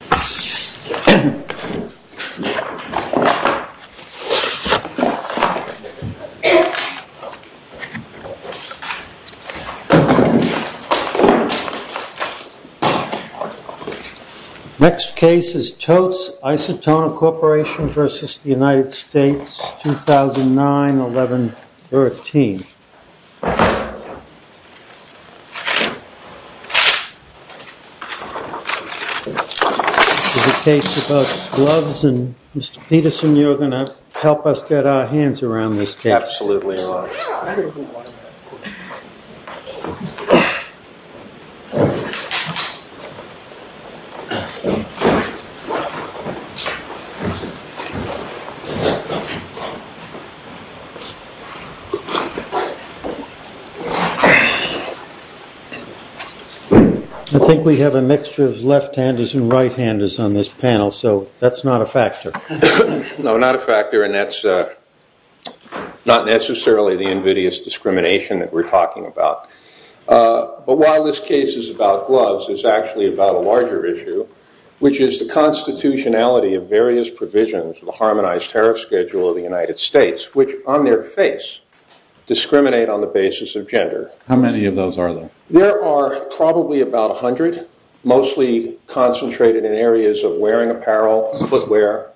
2009-11-13 This is a case about gloves, and Mr. Peterson, you're going to help us get our hands around this case. Absolutely. I think we have a mixture of left handers and right handers on this panel, so that's not a factor. No, not a factor, and that's not necessarily the invidious discrimination that we're talking about. But while this case is about gloves, it's actually about a larger issue, which is the constitutionality of various provisions of the Harmonized Tariff Schedule of the United States, which on their face discriminate on the basis of gender. How many of those are there? There are probably about 100, mostly concentrated in areas of wearing apparel, footwear,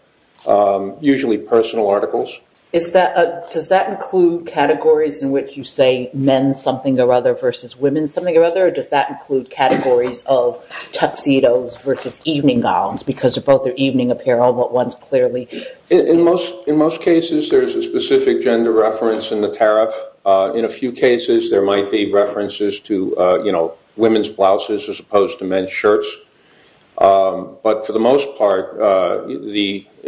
usually personal articles. Does that include categories in which you say men something or other versus women something or other, or does that include categories of tuxedos versus evening gowns, because they're both evening apparel, but one's clearly... In most cases, there's a specific gender reference in the tariff. In a few cases, there might be references to women's blouses as opposed to men's shirts. But for the most part,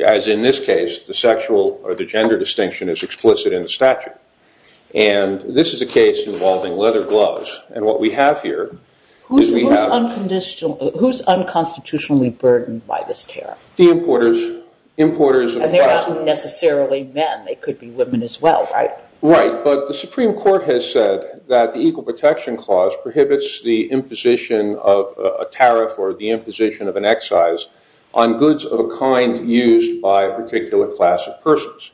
as in this case, the sexual or the gender distinction is explicit in the statute. And this is a case involving leather gloves, and what we have here is we have... Who's unconstitutionally burdened by this tariff? The importers. And they're not necessarily men. They could be women as well, right? Right, but the Supreme Court has said that the Equal Protection Clause prohibits the imposition of a tariff or the imposition of an excise on goods of a kind used by a particular class of persons.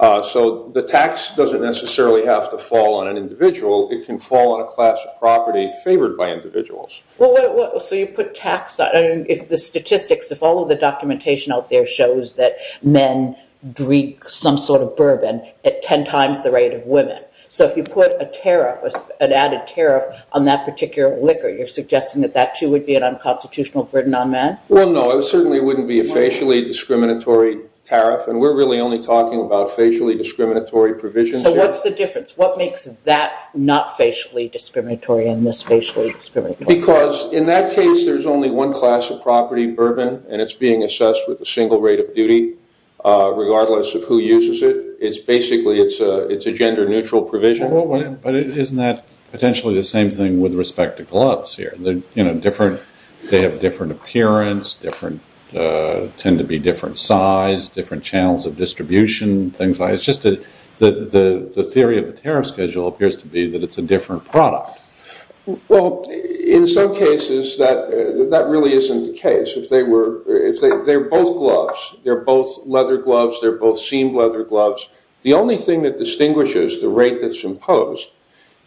So the tax doesn't necessarily have to fall on an individual. It can fall on a class of property favored by individuals. So you put tax on... If all of the documentation out there shows that men drink some sort of bourbon at 10 times the rate of women, so if you put a tariff, an added tariff, on that particular liquor, you're suggesting that that, too, would be an unconstitutional burden on men? Well, no, it certainly wouldn't be a facially discriminatory tariff, and we're really only talking about facially discriminatory provisions here. So what's the difference? What makes that not facially discriminatory and this facially discriminatory? Because in that case, there's only one class of property, bourbon, and it's being assessed with a single rate of duty, regardless of who uses it. Basically, it's a gender-neutral provision. But isn't that potentially the same thing with respect to gloves here? They have different appearance, tend to be different size, different channels of distribution, things like that. It's just that the theory of the tariff schedule appears to be that it's a different product. Well, in some cases, that really isn't the case. They're both gloves. They're both leather gloves. They're both seamed leather gloves. The only thing that distinguishes the rate that's imposed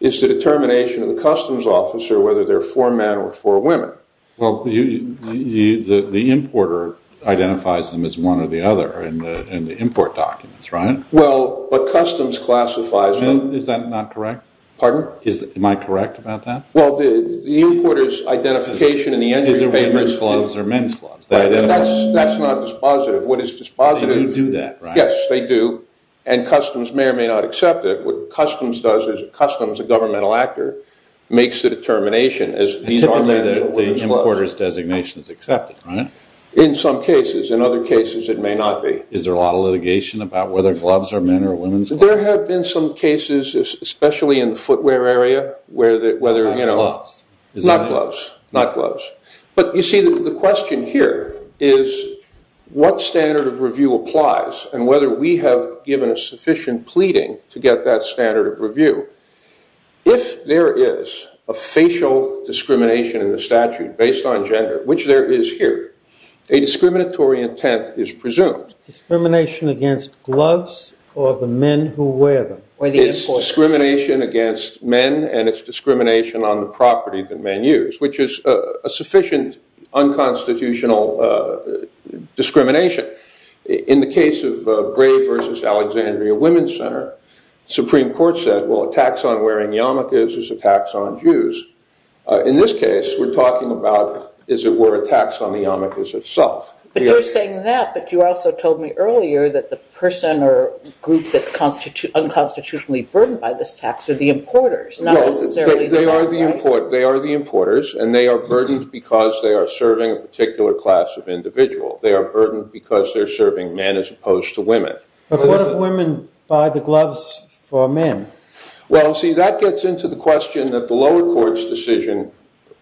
is the determination of the customs officer whether they're for men or for women. Well, the importer identifies them as one or the other in the import documents, right? Well, but customs classifies them. Is that not correct? Pardon? Am I correct about that? Well, the importer's identification in the entry papers- Is it women's gloves or men's gloves? That's not dispositive. What is dispositive- They do do that, right? Yes, they do, and customs may or may not accept it. What customs does is customs, a governmental actor, makes the determination. Typically, the importer's designation is accepted, right? In some cases. In other cases, it may not be. Is there a lot of litigation about whether gloves are men's or women's gloves? There have been some cases, especially in the footwear area, where the- Not gloves. Not gloves, not gloves. But you see, the question here is what standard of review applies and whether we have given a sufficient pleading to get that standard of review. If there is a facial discrimination in the statute based on gender, which there is here, a discriminatory intent is presumed. Discrimination against gloves or the men who wear them? It's discrimination against men, and it's discrimination on the property that men use, which is a sufficient unconstitutional discrimination. In the case of Gray v. Alexandria Women's Center, the Supreme Court said, well, a tax on wearing yarmulkes is a tax on Jews. In this case, we're talking about, as it were, a tax on the yarmulkes itself. But you're saying that, but you also told me earlier that the person or group that's unconstitutionally burdened by this tax are the importers, not necessarily- They are the importers, and they are burdened because they are serving a particular class of individual. They are burdened because they're serving men as opposed to women. But what if women buy the gloves for men? Well, see, that gets into the question that the lower court's decision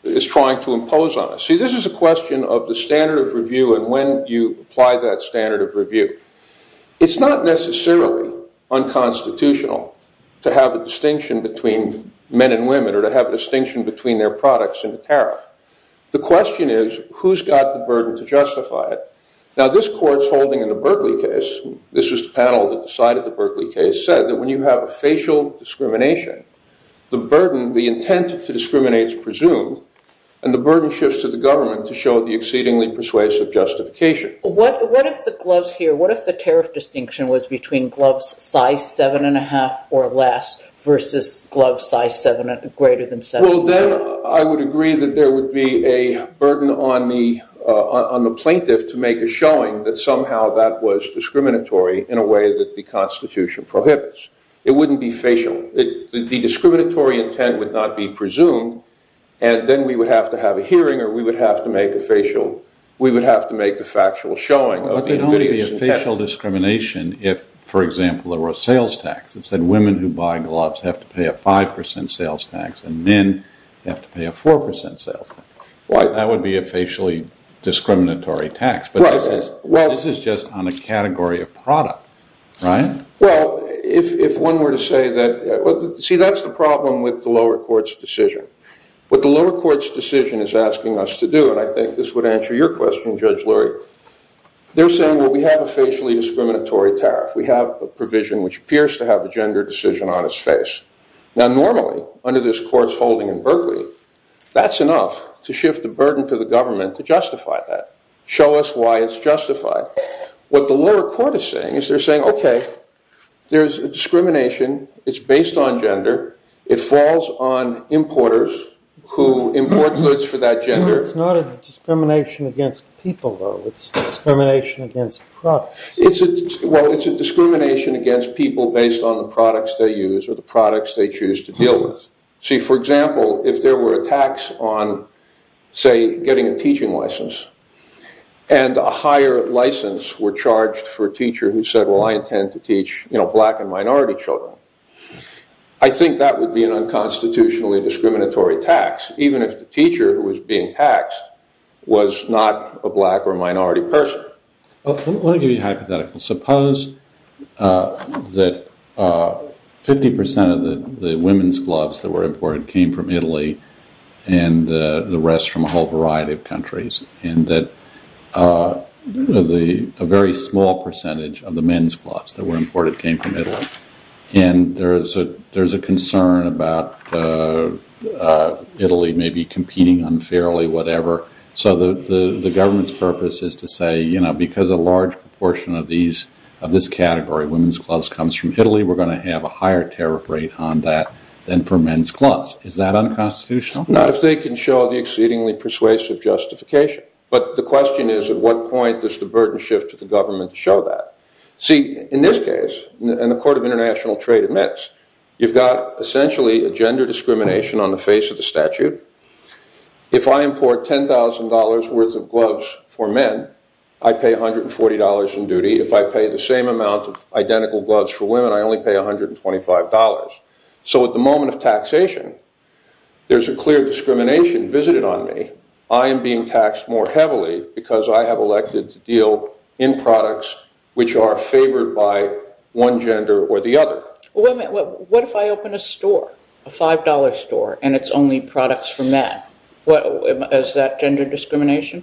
is trying to impose on us. See, this is a question of the standard of review and when you apply that standard of review. It's not necessarily unconstitutional to have a distinction between men and women or to have a distinction between their products in the tariff. The question is, who's got the burden to justify it? Now, this court's holding in the Berkeley case- this was the panel that decided the Berkeley case- said that when you have a facial discrimination, the burden, the intent to discriminate is presumed, and the burden shifts to the government to show the exceedingly persuasive justification. What if the gloves here, what if the tariff distinction was between gloves size 7 1⁄2 or less versus gloves size greater than 7 1⁄2? Well, then I would agree that there would be a burden on the plaintiff to make a showing that somehow that was discriminatory in a way that the Constitution prohibits. It wouldn't be facial. The discriminatory intent would not be presumed, and then we would have to have a hearing or we would have to make the factual showing. But there don't have to be a facial discrimination if, for example, there were a sales tax that said women who buy gloves have to pay a 5 percent sales tax and men have to pay a 4 percent sales tax. That would be a facially discriminatory tax. But this is just on a category of product, right? Well, if one were to say that, see, that's the problem with the lower court's decision. What the lower court's decision is asking us to do, and I think this would answer your question, Judge Lurie, they're saying, well, we have a facially discriminatory tariff. We have a provision which appears to have a gender decision on its face. Now, normally, under this court's holding in Berkeley, that's enough to shift the burden to the government to justify that, show us why it's justified. But what the lower court is saying is they're saying, okay, there's a discrimination. It's based on gender. It falls on importers who import goods for that gender. It's not a discrimination against people, though. It's a discrimination against products. Well, it's a discrimination against people based on the products they use or the products they choose to deal with. See, for example, if there were a tax on, say, getting a teaching license and a higher license were charged for a teacher who said, well, I intend to teach black and minority children, I think that would be an unconstitutionally discriminatory tax, even if the teacher who was being taxed was not a black or minority person. I want to give you a hypothetical. Suppose that 50% of the women's gloves that were imported came from Italy and the rest from a whole variety of countries and that a very small percentage of the men's gloves that were imported came from Italy and there's a concern about Italy maybe competing unfairly, whatever. So the government's purpose is to say, you know, because a large proportion of this category, women's gloves, comes from Italy, we're going to have a higher tariff rate on that than for men's gloves. Is that unconstitutional? Not if they can show the exceedingly persuasive justification. But the question is, at what point does the burden shift to the government to show that? See, in this case, and the Court of International Trade admits, you've got essentially a gender discrimination on the face of the statute. If I import $10,000 worth of gloves for men, I pay $140 in duty. If I pay the same amount of identical gloves for women, I only pay $125. So at the moment of taxation, there's a clear discrimination visited on me. I am being taxed more heavily because I have elected to deal in products which are favored by one gender or the other. What if I open a store, a $5 store, and it's only products for men? Is that gender discrimination?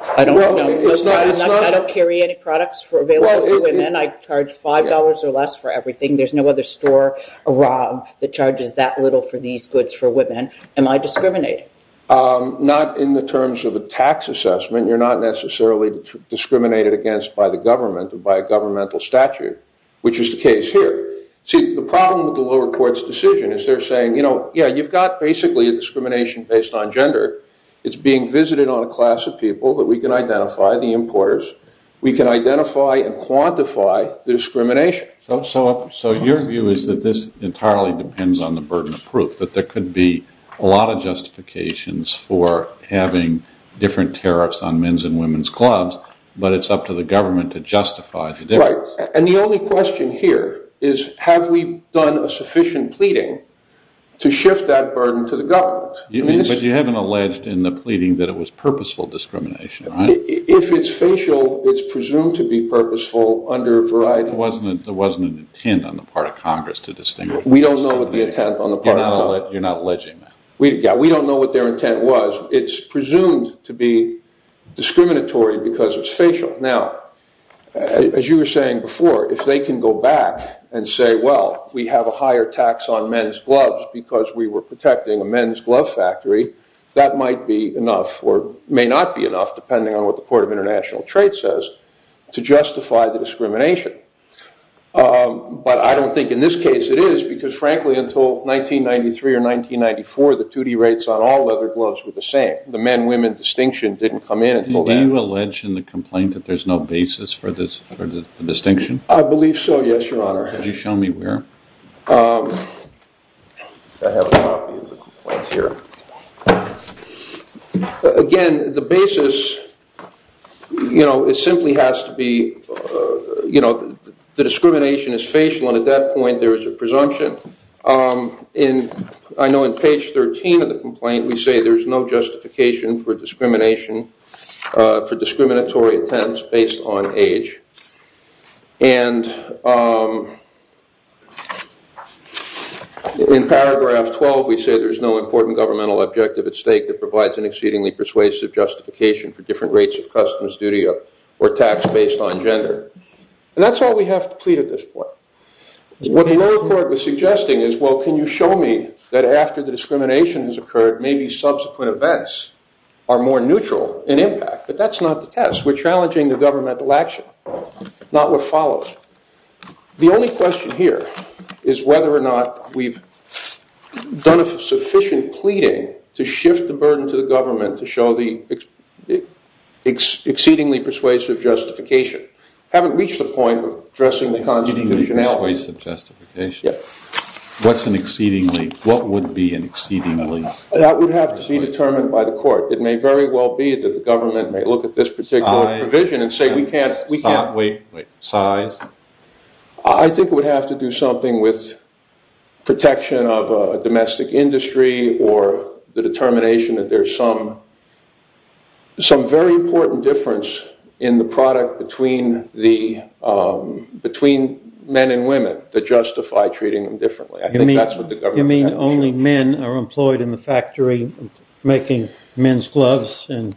I don't carry any products available for women. I charge $5 or less for everything. There's no other store around that charges that little for these goods for women. Am I discriminated? Not in the terms of a tax assessment. You're not necessarily discriminated against by the government or by a governmental statute, which is the case here. See, the problem with the lower court's decision is they're saying, you know, yeah, you've got basically a discrimination based on gender. It's being visited on a class of people that we can identify, the importers. We can identify and quantify the discrimination. So your view is that this entirely depends on the burden of proof, that there could be a lot of justifications for having different tariffs on men's and women's clubs, but it's up to the government to justify the difference. Right, and the only question here is, have we done a sufficient pleading to shift that burden to the government? But you haven't alleged in the pleading that it was purposeful discrimination, right? If it's facial, it's presumed to be purposeful under variety. There wasn't an intent on the part of Congress to distinguish. We don't know what the intent on the part of Congress. You're not alleging that. Yeah, we don't know what their intent was. It's presumed to be discriminatory because it's facial. Now, as you were saying before, if they can go back and say, well, we have a higher tax on men's gloves because we were protecting a men's glove factory, that might be enough or may not be enough, depending on what the Court of International Trade says, to justify the discrimination. But I don't think in this case it is because, frankly, until 1993 or 1994, the duty rates on all leather gloves were the same. The men-women distinction didn't come in until then. Do you allege in the complaint that there's no basis for the distinction? I believe so, yes, Your Honor. Could you show me where? I have a copy of the complaint here. Again, the basis simply has to be the discrimination is facial, and at that point there is a presumption. I know in page 13 of the complaint we say there's no justification for discrimination, for discriminatory attempts based on age. And in paragraph 12 we say there's no important governmental objective at stake that provides an exceedingly persuasive justification for different rates of customs duty or tax based on gender. And that's all we have to plead at this point. What the lower court was suggesting is, well, can you show me that after the discrimination has occurred, maybe subsequent events are more neutral in impact? But that's not the test. We're challenging the governmental action, not what follows. The only question here is whether or not we've done a sufficient pleading to shift the burden to the government to show the exceedingly persuasive justification. We haven't reached the point of addressing the constitutionality. Exceedingly persuasive justification? Yes. What would be an exceedingly persuasive justification? That would have to be determined by the court. It may very well be that the government may look at this particular provision and say we can't. Size? I think it would have to do something with protection of a domestic industry or the determination that there's some very important difference in the product between men and women that justify treating them differently. You mean only men are employed in the factory making men's gloves and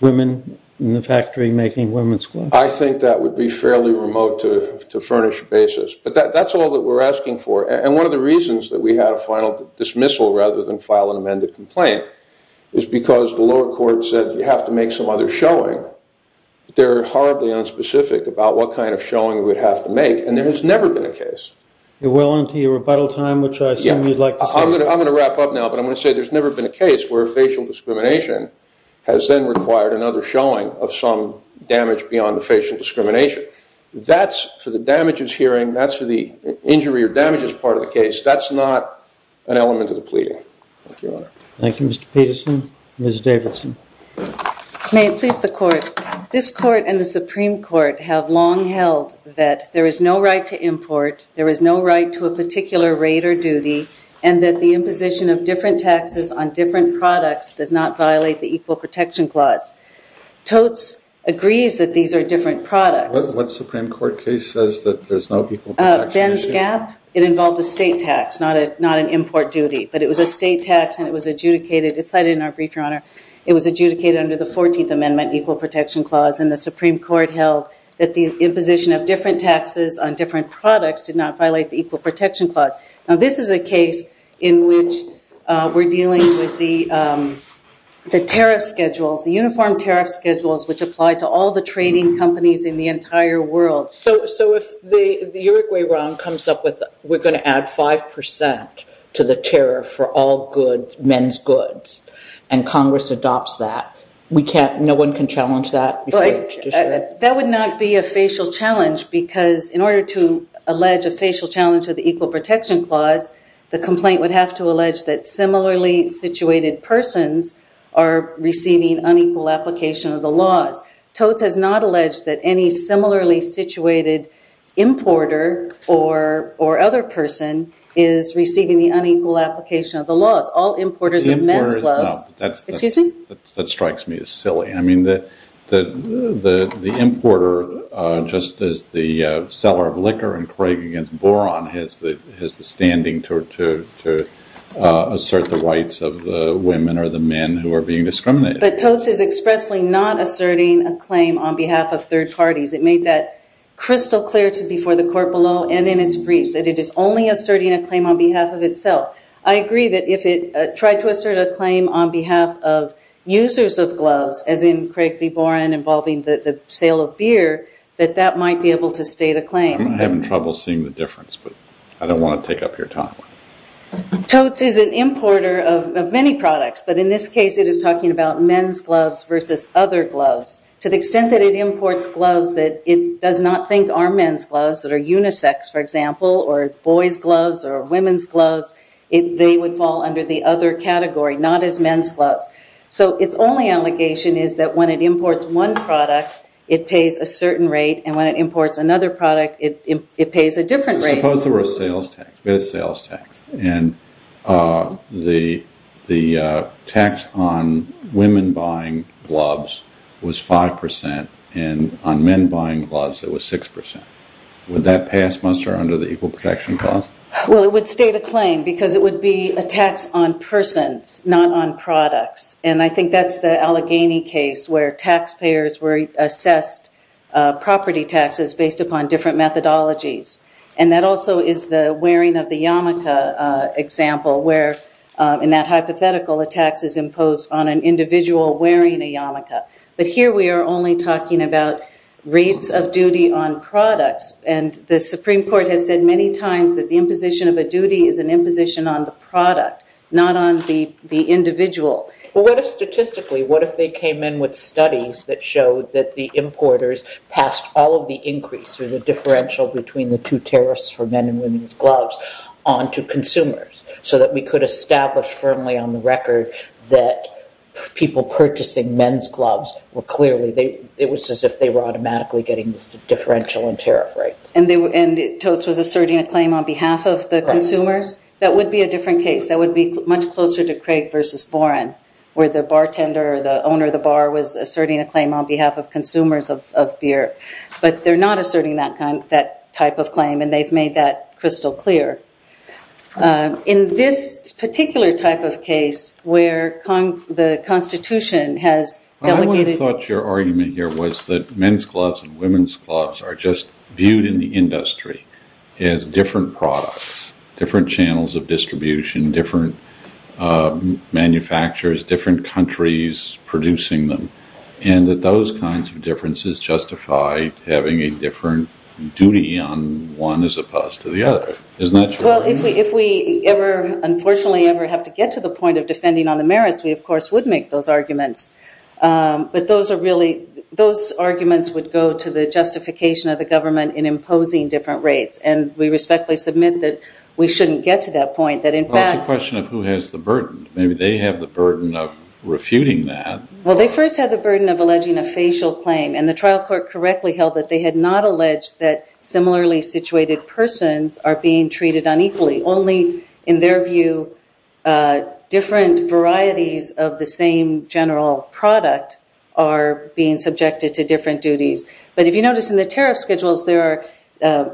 women in the factory making women's gloves? I think that would be fairly remote to furnish basis. But that's all that we're asking for. And one of the reasons that we had a final dismissal rather than file an amended complaint is because the lower court said you have to make some other showing. They're horribly unspecific about what kind of showing we'd have to make, and there has never been a case. You're well into your rebuttal time, which I assume you'd like to say. I'm going to wrap up now, but I'm going to say there's never been a case where facial discrimination has then required another showing of some damage beyond the facial discrimination. That's for the damages hearing. That's for the injury or damages part of the case. That's not an element of the pleading. Thank you, Your Honor. Thank you, Mr. Peterson. Ms. Davidson. May it please the court. This court and the Supreme Court have long held that there is no right to import, there is no right to a particular rate or duty, and that the imposition of different taxes on different products does not violate the Equal Protection Clause. Totes agrees that these are different products. What Supreme Court case says that there's no equal protection issue? Ben's Gap. It involved a state tax, not an import duty. But it was a state tax, and it was adjudicated. It's cited in our brief, Your Honor. It was adjudicated under the 14th Amendment Equal Protection Clause, and the Supreme Court held that the imposition of different taxes on different products did not violate the Equal Protection Clause. Now, this is a case in which we're dealing with the tariff schedules, the uniform tariff schedules, which apply to all the trading companies in the entire world. So if the Uruguay Round comes up with we're going to add 5% to the tariff for all goods, men's goods, and Congress adopts that, no one can challenge that? That would not be a facial challenge, because in order to allege a facial challenge of the Equal Protection Clause, the complaint would have to allege that similarly situated persons are receiving unequal application of the laws. Totes has not alleged that any similarly situated importer or other person is receiving the unequal application of the laws. Importers, no. That strikes me as silly. I mean, the importer, just as the seller of liquor in Craig against Boron, has the standing to assert the rights of the women or the men who are being discriminated against. But Totes is expressly not asserting a claim on behalf of third parties. It made that crystal clear before the court below and in its briefs that it is only asserting a claim on behalf of itself. I agree that if it tried to assert a claim on behalf of users of gloves, as in Craig v. Boron involving the sale of beer, that that might be able to state a claim. I'm having trouble seeing the difference, but I don't want to take up your time. Totes is an importer of many products, but in this case it is talking about men's gloves versus other gloves. To the extent that it imports gloves that it does not think are men's gloves, that are unisex, for example, or boys' gloves or women's gloves, they would fall under the other category, not as men's gloves. So its only allegation is that when it imports one product, it pays a certain rate, and when it imports another product, it pays a different rate. Suppose there were a sales tax. We had a sales tax, and the tax on women buying gloves was 5%, and on men buying gloves it was 6%. Would that pass muster under the Equal Protection Clause? Well, it would state a claim, because it would be a tax on persons, not on products. And I think that's the Allegheny case, where taxpayers were assessed property taxes based upon different methodologies. And that also is the wearing of the yarmulke example, where in that hypothetical a tax is imposed on an individual wearing a yarmulke. But here we are only talking about rates of duty on products, and the Supreme Court has said many times that the imposition of a duty is an imposition on the product, not on the individual. Well, what if statistically, what if they came in with studies that showed that the importers passed all of the increase, or the differential between the two tariffs for men and women's gloves, on to consumers, so that we could establish firmly on the record that people purchasing men's gloves were clearly, it was as if they were automatically getting differential in tariff rates. And Totes was asserting a claim on behalf of the consumers? Correct. That would be a different case. That would be much closer to Craig versus Boren, where the bartender or the owner of the bar was asserting a claim on behalf of consumers of beer. But they're not asserting that type of claim, and they've made that crystal clear. In this particular type of case, where the Constitution has delegated... I would have thought your argument here was that men's gloves and women's gloves are just viewed in the industry as different products, different channels of distribution, different manufacturers, different countries producing them, and that those kinds of differences justify having a different duty on one as opposed to the other. Isn't that true? Well, if we ever, unfortunately ever, have to get to the point of defending on the merits, we, of course, would make those arguments. But those arguments would go to the justification of the government in imposing different rates. And we respectfully submit that we shouldn't get to that point, that in fact... Well, it's a question of who has the burden. Maybe they have the burden of refuting that. Well, they first had the burden of alleging a facial claim, and the trial court correctly held that they had not alleged that similarly situated persons are being treated unequally. Only, in their view, different varieties of the same general product are being subjected to different duties. But if you notice in the tariff schedules,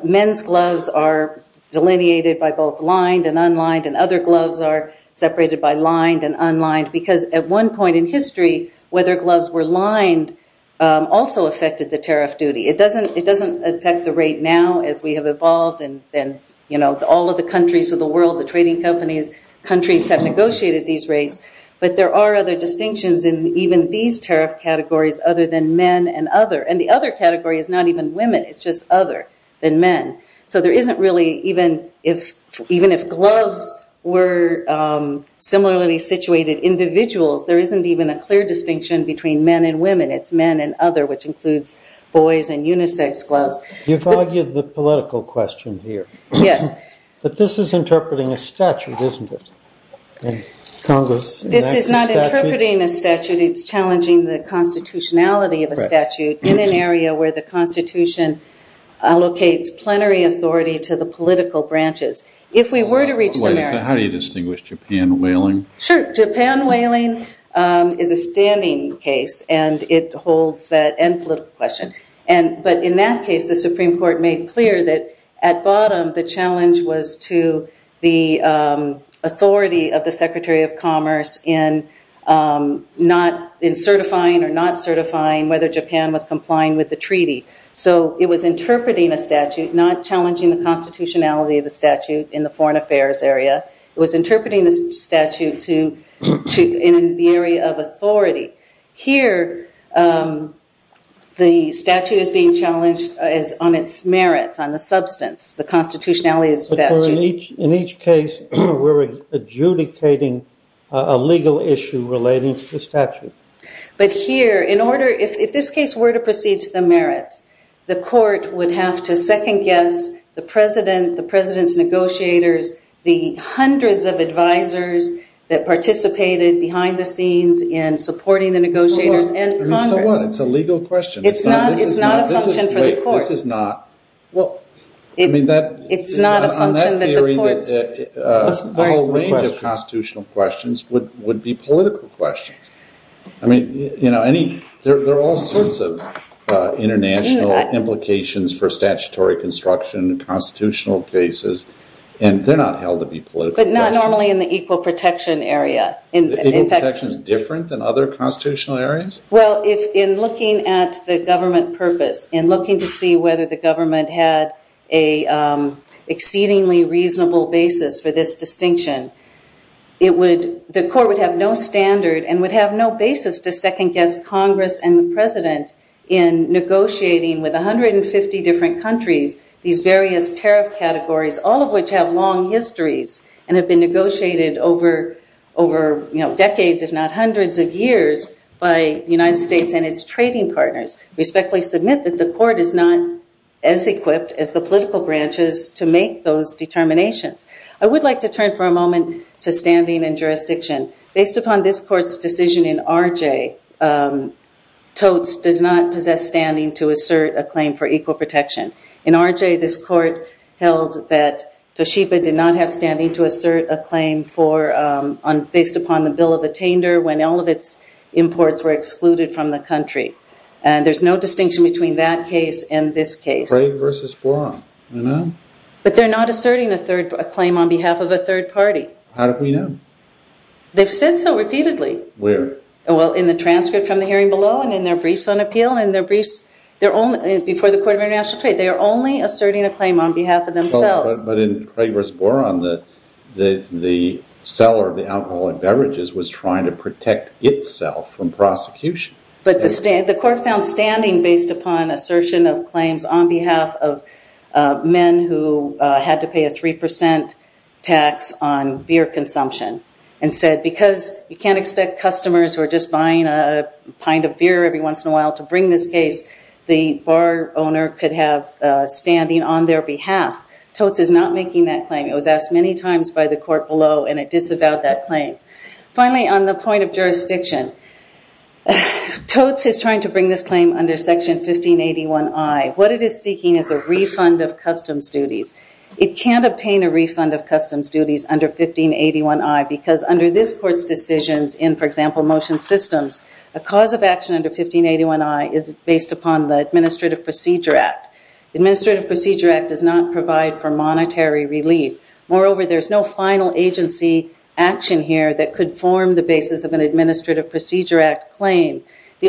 men's gloves are delineated by both lined and unlined, and other gloves are separated by lined and unlined, because at one point in history, whether gloves were lined also affected the tariff duty. It doesn't affect the rate now, as we have evolved, and all of the countries of the world, the trading companies, countries have negotiated these rates. But there are other distinctions in even these tariff categories other than men and other. And the other category is not even women. It's just other than men. So there isn't really, even if gloves were similarly situated individuals, there isn't even a clear distinction between men and women. It's men and other, which includes boys and unisex gloves. You've argued the political question here. Yes. But this is interpreting a statute, isn't it? This is not interpreting a statute. It's challenging the constitutionality of a statute in an area where the Constitution allocates plenary authority to the political branches. If we were to reach the merits... How do you distinguish Japan whaling? Sure. Japan whaling is a standing case, and it holds that end political question. But in that case, the Supreme Court made clear that at bottom, the challenge was to the authority of the Secretary of Commerce in certifying or not certifying whether Japan was complying with the treaty. So it was interpreting a statute, not challenging the constitutionality of the statute in the foreign affairs area. It was interpreting the statute in the area of authority. Here, the statute is being challenged on its merits, on the substance, the constitutionality of the statute. But in each case, we're adjudicating a legal issue relating to the statute. But here, if this case were to proceed to the merits, the court would have to second-guess the president, the participants, negotiators, the hundreds of advisers that participated behind the scenes in supporting the negotiators and Congress. So what? It's a legal question. It's not a function for the court. This is not... It's not a function that the court... The whole range of constitutional questions would be political questions. I mean, there are all sorts of international implications for statutory construction, constitutional cases, and they're not held to be political questions. But not normally in the equal protection area. Equal protection is different than other constitutional areas? Well, in looking at the government purpose, in looking to see whether the government had an exceedingly reasonable basis for this distinction, the court would have no standard and would have no basis to second-guess Congress and the president in negotiating with 150 different countries these various tariff categories, all of which have long histories and have been negotiated over decades, if not hundreds of years, by the United States and its trading partners. Respectfully submit that the court is not as equipped as the political branches to make those determinations. I would like to turn for a moment to standing and jurisdiction. Based upon this court's decision in RJ, TOTS does not possess standing to assert a claim for equal protection. In RJ, this court held that Toshiba did not have standing to assert a claim based upon the Bill of Attainder when all of its imports were excluded from the country. And there's no distinction between that case and this case. Craig versus Boron, you know? But they're not asserting a claim on behalf of a third party. How do we know? They've said so repeatedly. Where? Well, in the transcript from the hearing below and in their briefs on appeal and in their briefs before the Court of International Trade. They are only asserting a claim on behalf of themselves. But in Craig versus Boron, the seller of the alcoholic beverages was trying to protect itself from prosecution. But the court found standing based upon assertion of claims on behalf of men who had to pay a 3% tax on beer consumption and said because you can't expect customers who are just buying a pint of beer every once in a while to bring this case, the bar owner could have standing on their behalf. TOTS is not making that claim. It was asked many times by the court below and it disavowed that claim. Finally, on the point of jurisdiction, TOTS is trying to bring this claim under Section 1581I. What it is seeking is a refund of customs duties. It can't obtain a refund of customs duties under 1581I because under this court's decisions in, for example, motion systems, a cause of action under 1581I is based upon the Administrative Procedure Act. The Administrative Procedure Act does not provide for monetary relief. Moreover, there is no final agency action here that could form the basis of an Administrative Procedure Act claim. The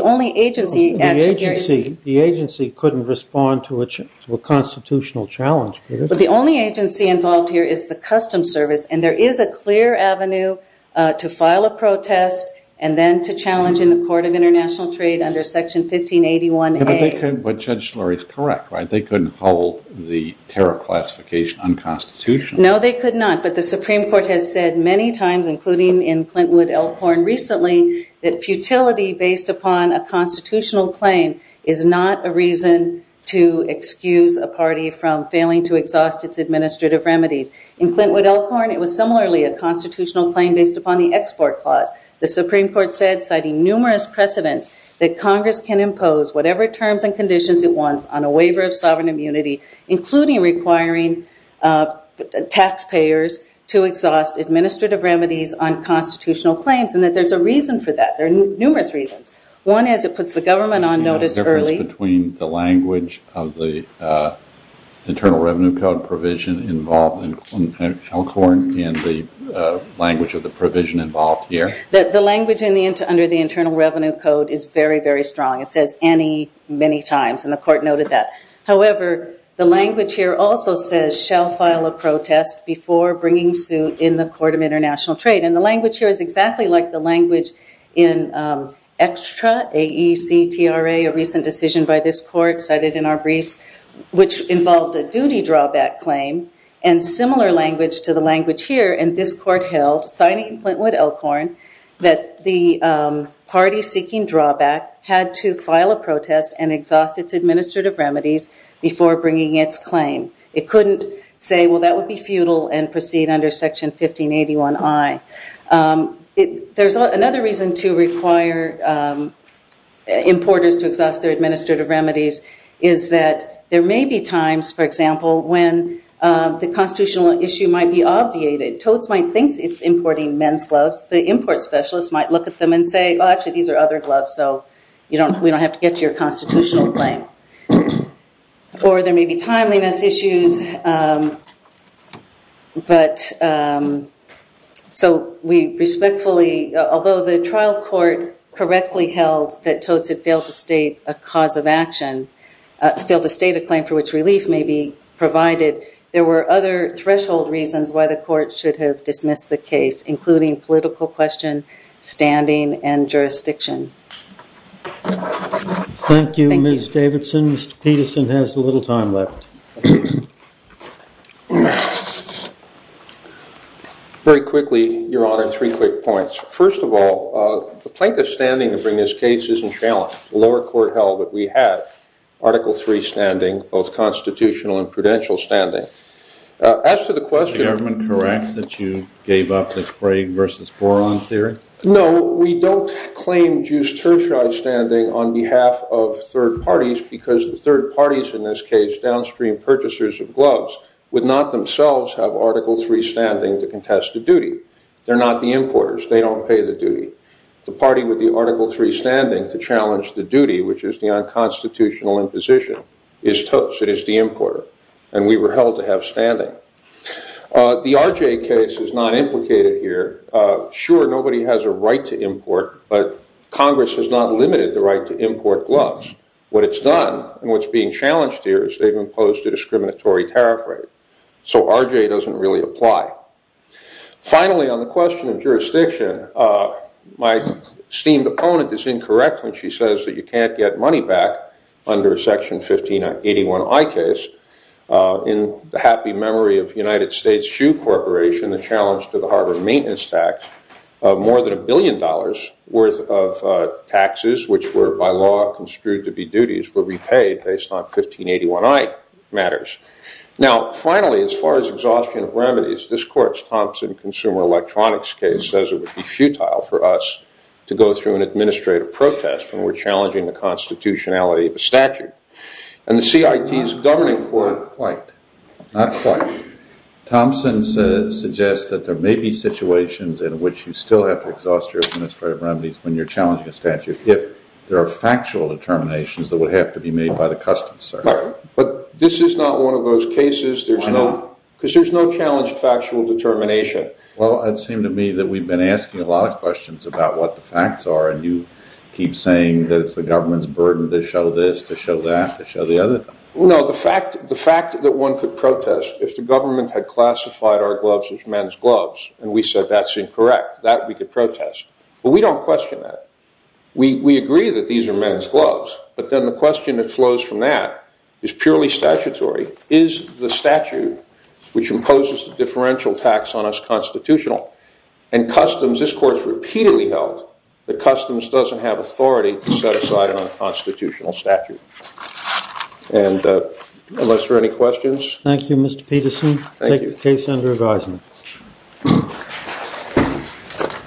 agency couldn't respond to a constitutional challenge. The only agency involved here is the Customs Service and there is a clear avenue to file a protest and then to challenge in the Court of International Trade under Section 1581A. But Judge Schlur is correct. They couldn't hold the terror classification unconstitutional. No, they could not, but the Supreme Court has said many times, including in Clintwood-Elkhorn recently, that futility based upon a constitutional claim is not a reason to excuse a party from failing to exhaust its administrative remedies. In Clintwood-Elkhorn, it was similarly a constitutional claim based upon the Export Clause. The Supreme Court said, citing numerous precedents, that Congress can impose whatever terms and conditions it wants on a waiver of sovereign immunity, including requiring taxpayers to exhaust administrative remedies on constitutional claims and that there's a reason for that. There are numerous reasons. One is it puts the government on notice early. Is there a difference between the language of the Internal Revenue Code provision involved in Elkhorn and the language of the provision involved here? The language under the Internal Revenue Code is very, very strong. It says any many times and the Court noted that. However, the language here also says, shall file a protest before bringing suit in the Court of International Trade. And the language here is exactly like the language in Extra, AEC, TRA, a recent decision by this Court cited in our briefs, which involved a duty drawback claim and similar language to the language here. And this Court held, citing Clintwood-Elkhorn, that the party seeking drawback had to file a protest and exhaust its administrative remedies before bringing its claim. It couldn't say, well, that would be futile and proceed under Section 1581I. There's another reason to require importers to exhaust their administrative remedies is that there may be times, for example, when the constitutional issue might be obviated. Toadsmite thinks it's importing men's gloves. The import specialist might look at them and say, oh, actually, these are other gloves, so we don't have to get to your constitutional claim. Or there may be timeliness issues. So we respectfully, although the trial court correctly held that Toads had failed to state a cause of action, failed to state a claim for which relief may be provided, there were other threshold reasons why the court should have dismissed the case, including political question, standing, and jurisdiction. Thank you, Ms. Davidson. Mr. Peterson has a little time left. Very quickly, Your Honor, three quick points. First of all, the plaintiff's standing to bring this case isn't challenged. The lower court held that we had Article III standing, both constitutional and prudential standing. As to the question- Is the government correct that you gave up the Craig versus Boron theory? No, we don't claim Jus tertiae standing on behalf of third parties because the third parties, in this case downstream purchasers of gloves, would not themselves have Article III standing to contest the duty. They're not the importers. They don't pay the duty. The party with the Article III standing to challenge the duty, which is the unconstitutional imposition, is Toads. It is the importer. And we were held to have standing. The RJ case is not implicated here. Sure, nobody has a right to import, but Congress has not limited the right to import gloves. What it's done, and what's being challenged here, is they've imposed a discriminatory tariff rate. So RJ doesn't really apply. Finally, on the question of jurisdiction, my esteemed opponent is incorrect when she says that you can't get money back under a Section 1581I case. In the happy memory of United States Shoe Corporation, the challenge to the Harvard maintenance tax of more than a billion dollars worth of taxes, which were by law construed to be duties, were repaid based on 1581I matters. Now, finally, as far as exhaustion of remedies, this court's Thompson Consumer Electronics case says it would be futile for us to go through an administrative protest when we're challenging the constitutionality of a statute. And the CIT's governing court... Not quite. Not quite. Thompson suggests that there may be situations in which you still have to exhaust your administrative remedies when you're challenging a statute if there are factual determinations that would have to be made by the customs, sir. But this is not one of those cases. Why not? Because there's no challenged factual determination. Well, it seemed to me that we've been asking a lot of questions about what the facts are, and you keep saying that it's the government's burden to show this, to show that, to show the other. No, the fact that one could protest if the government had classified our gloves as men's gloves and we said that's incorrect, that we could protest. Well, we don't question that. We agree that these are men's gloves, but then the question that flows from that is purely statutory. Is the statute which imposes the differential tax on us constitutional? And customs, this court's repeatedly held that customs doesn't have authority to set aside an unconstitutional statute. And unless there are any questions... Thank you, Mr. Peterson. Take the case under advisement.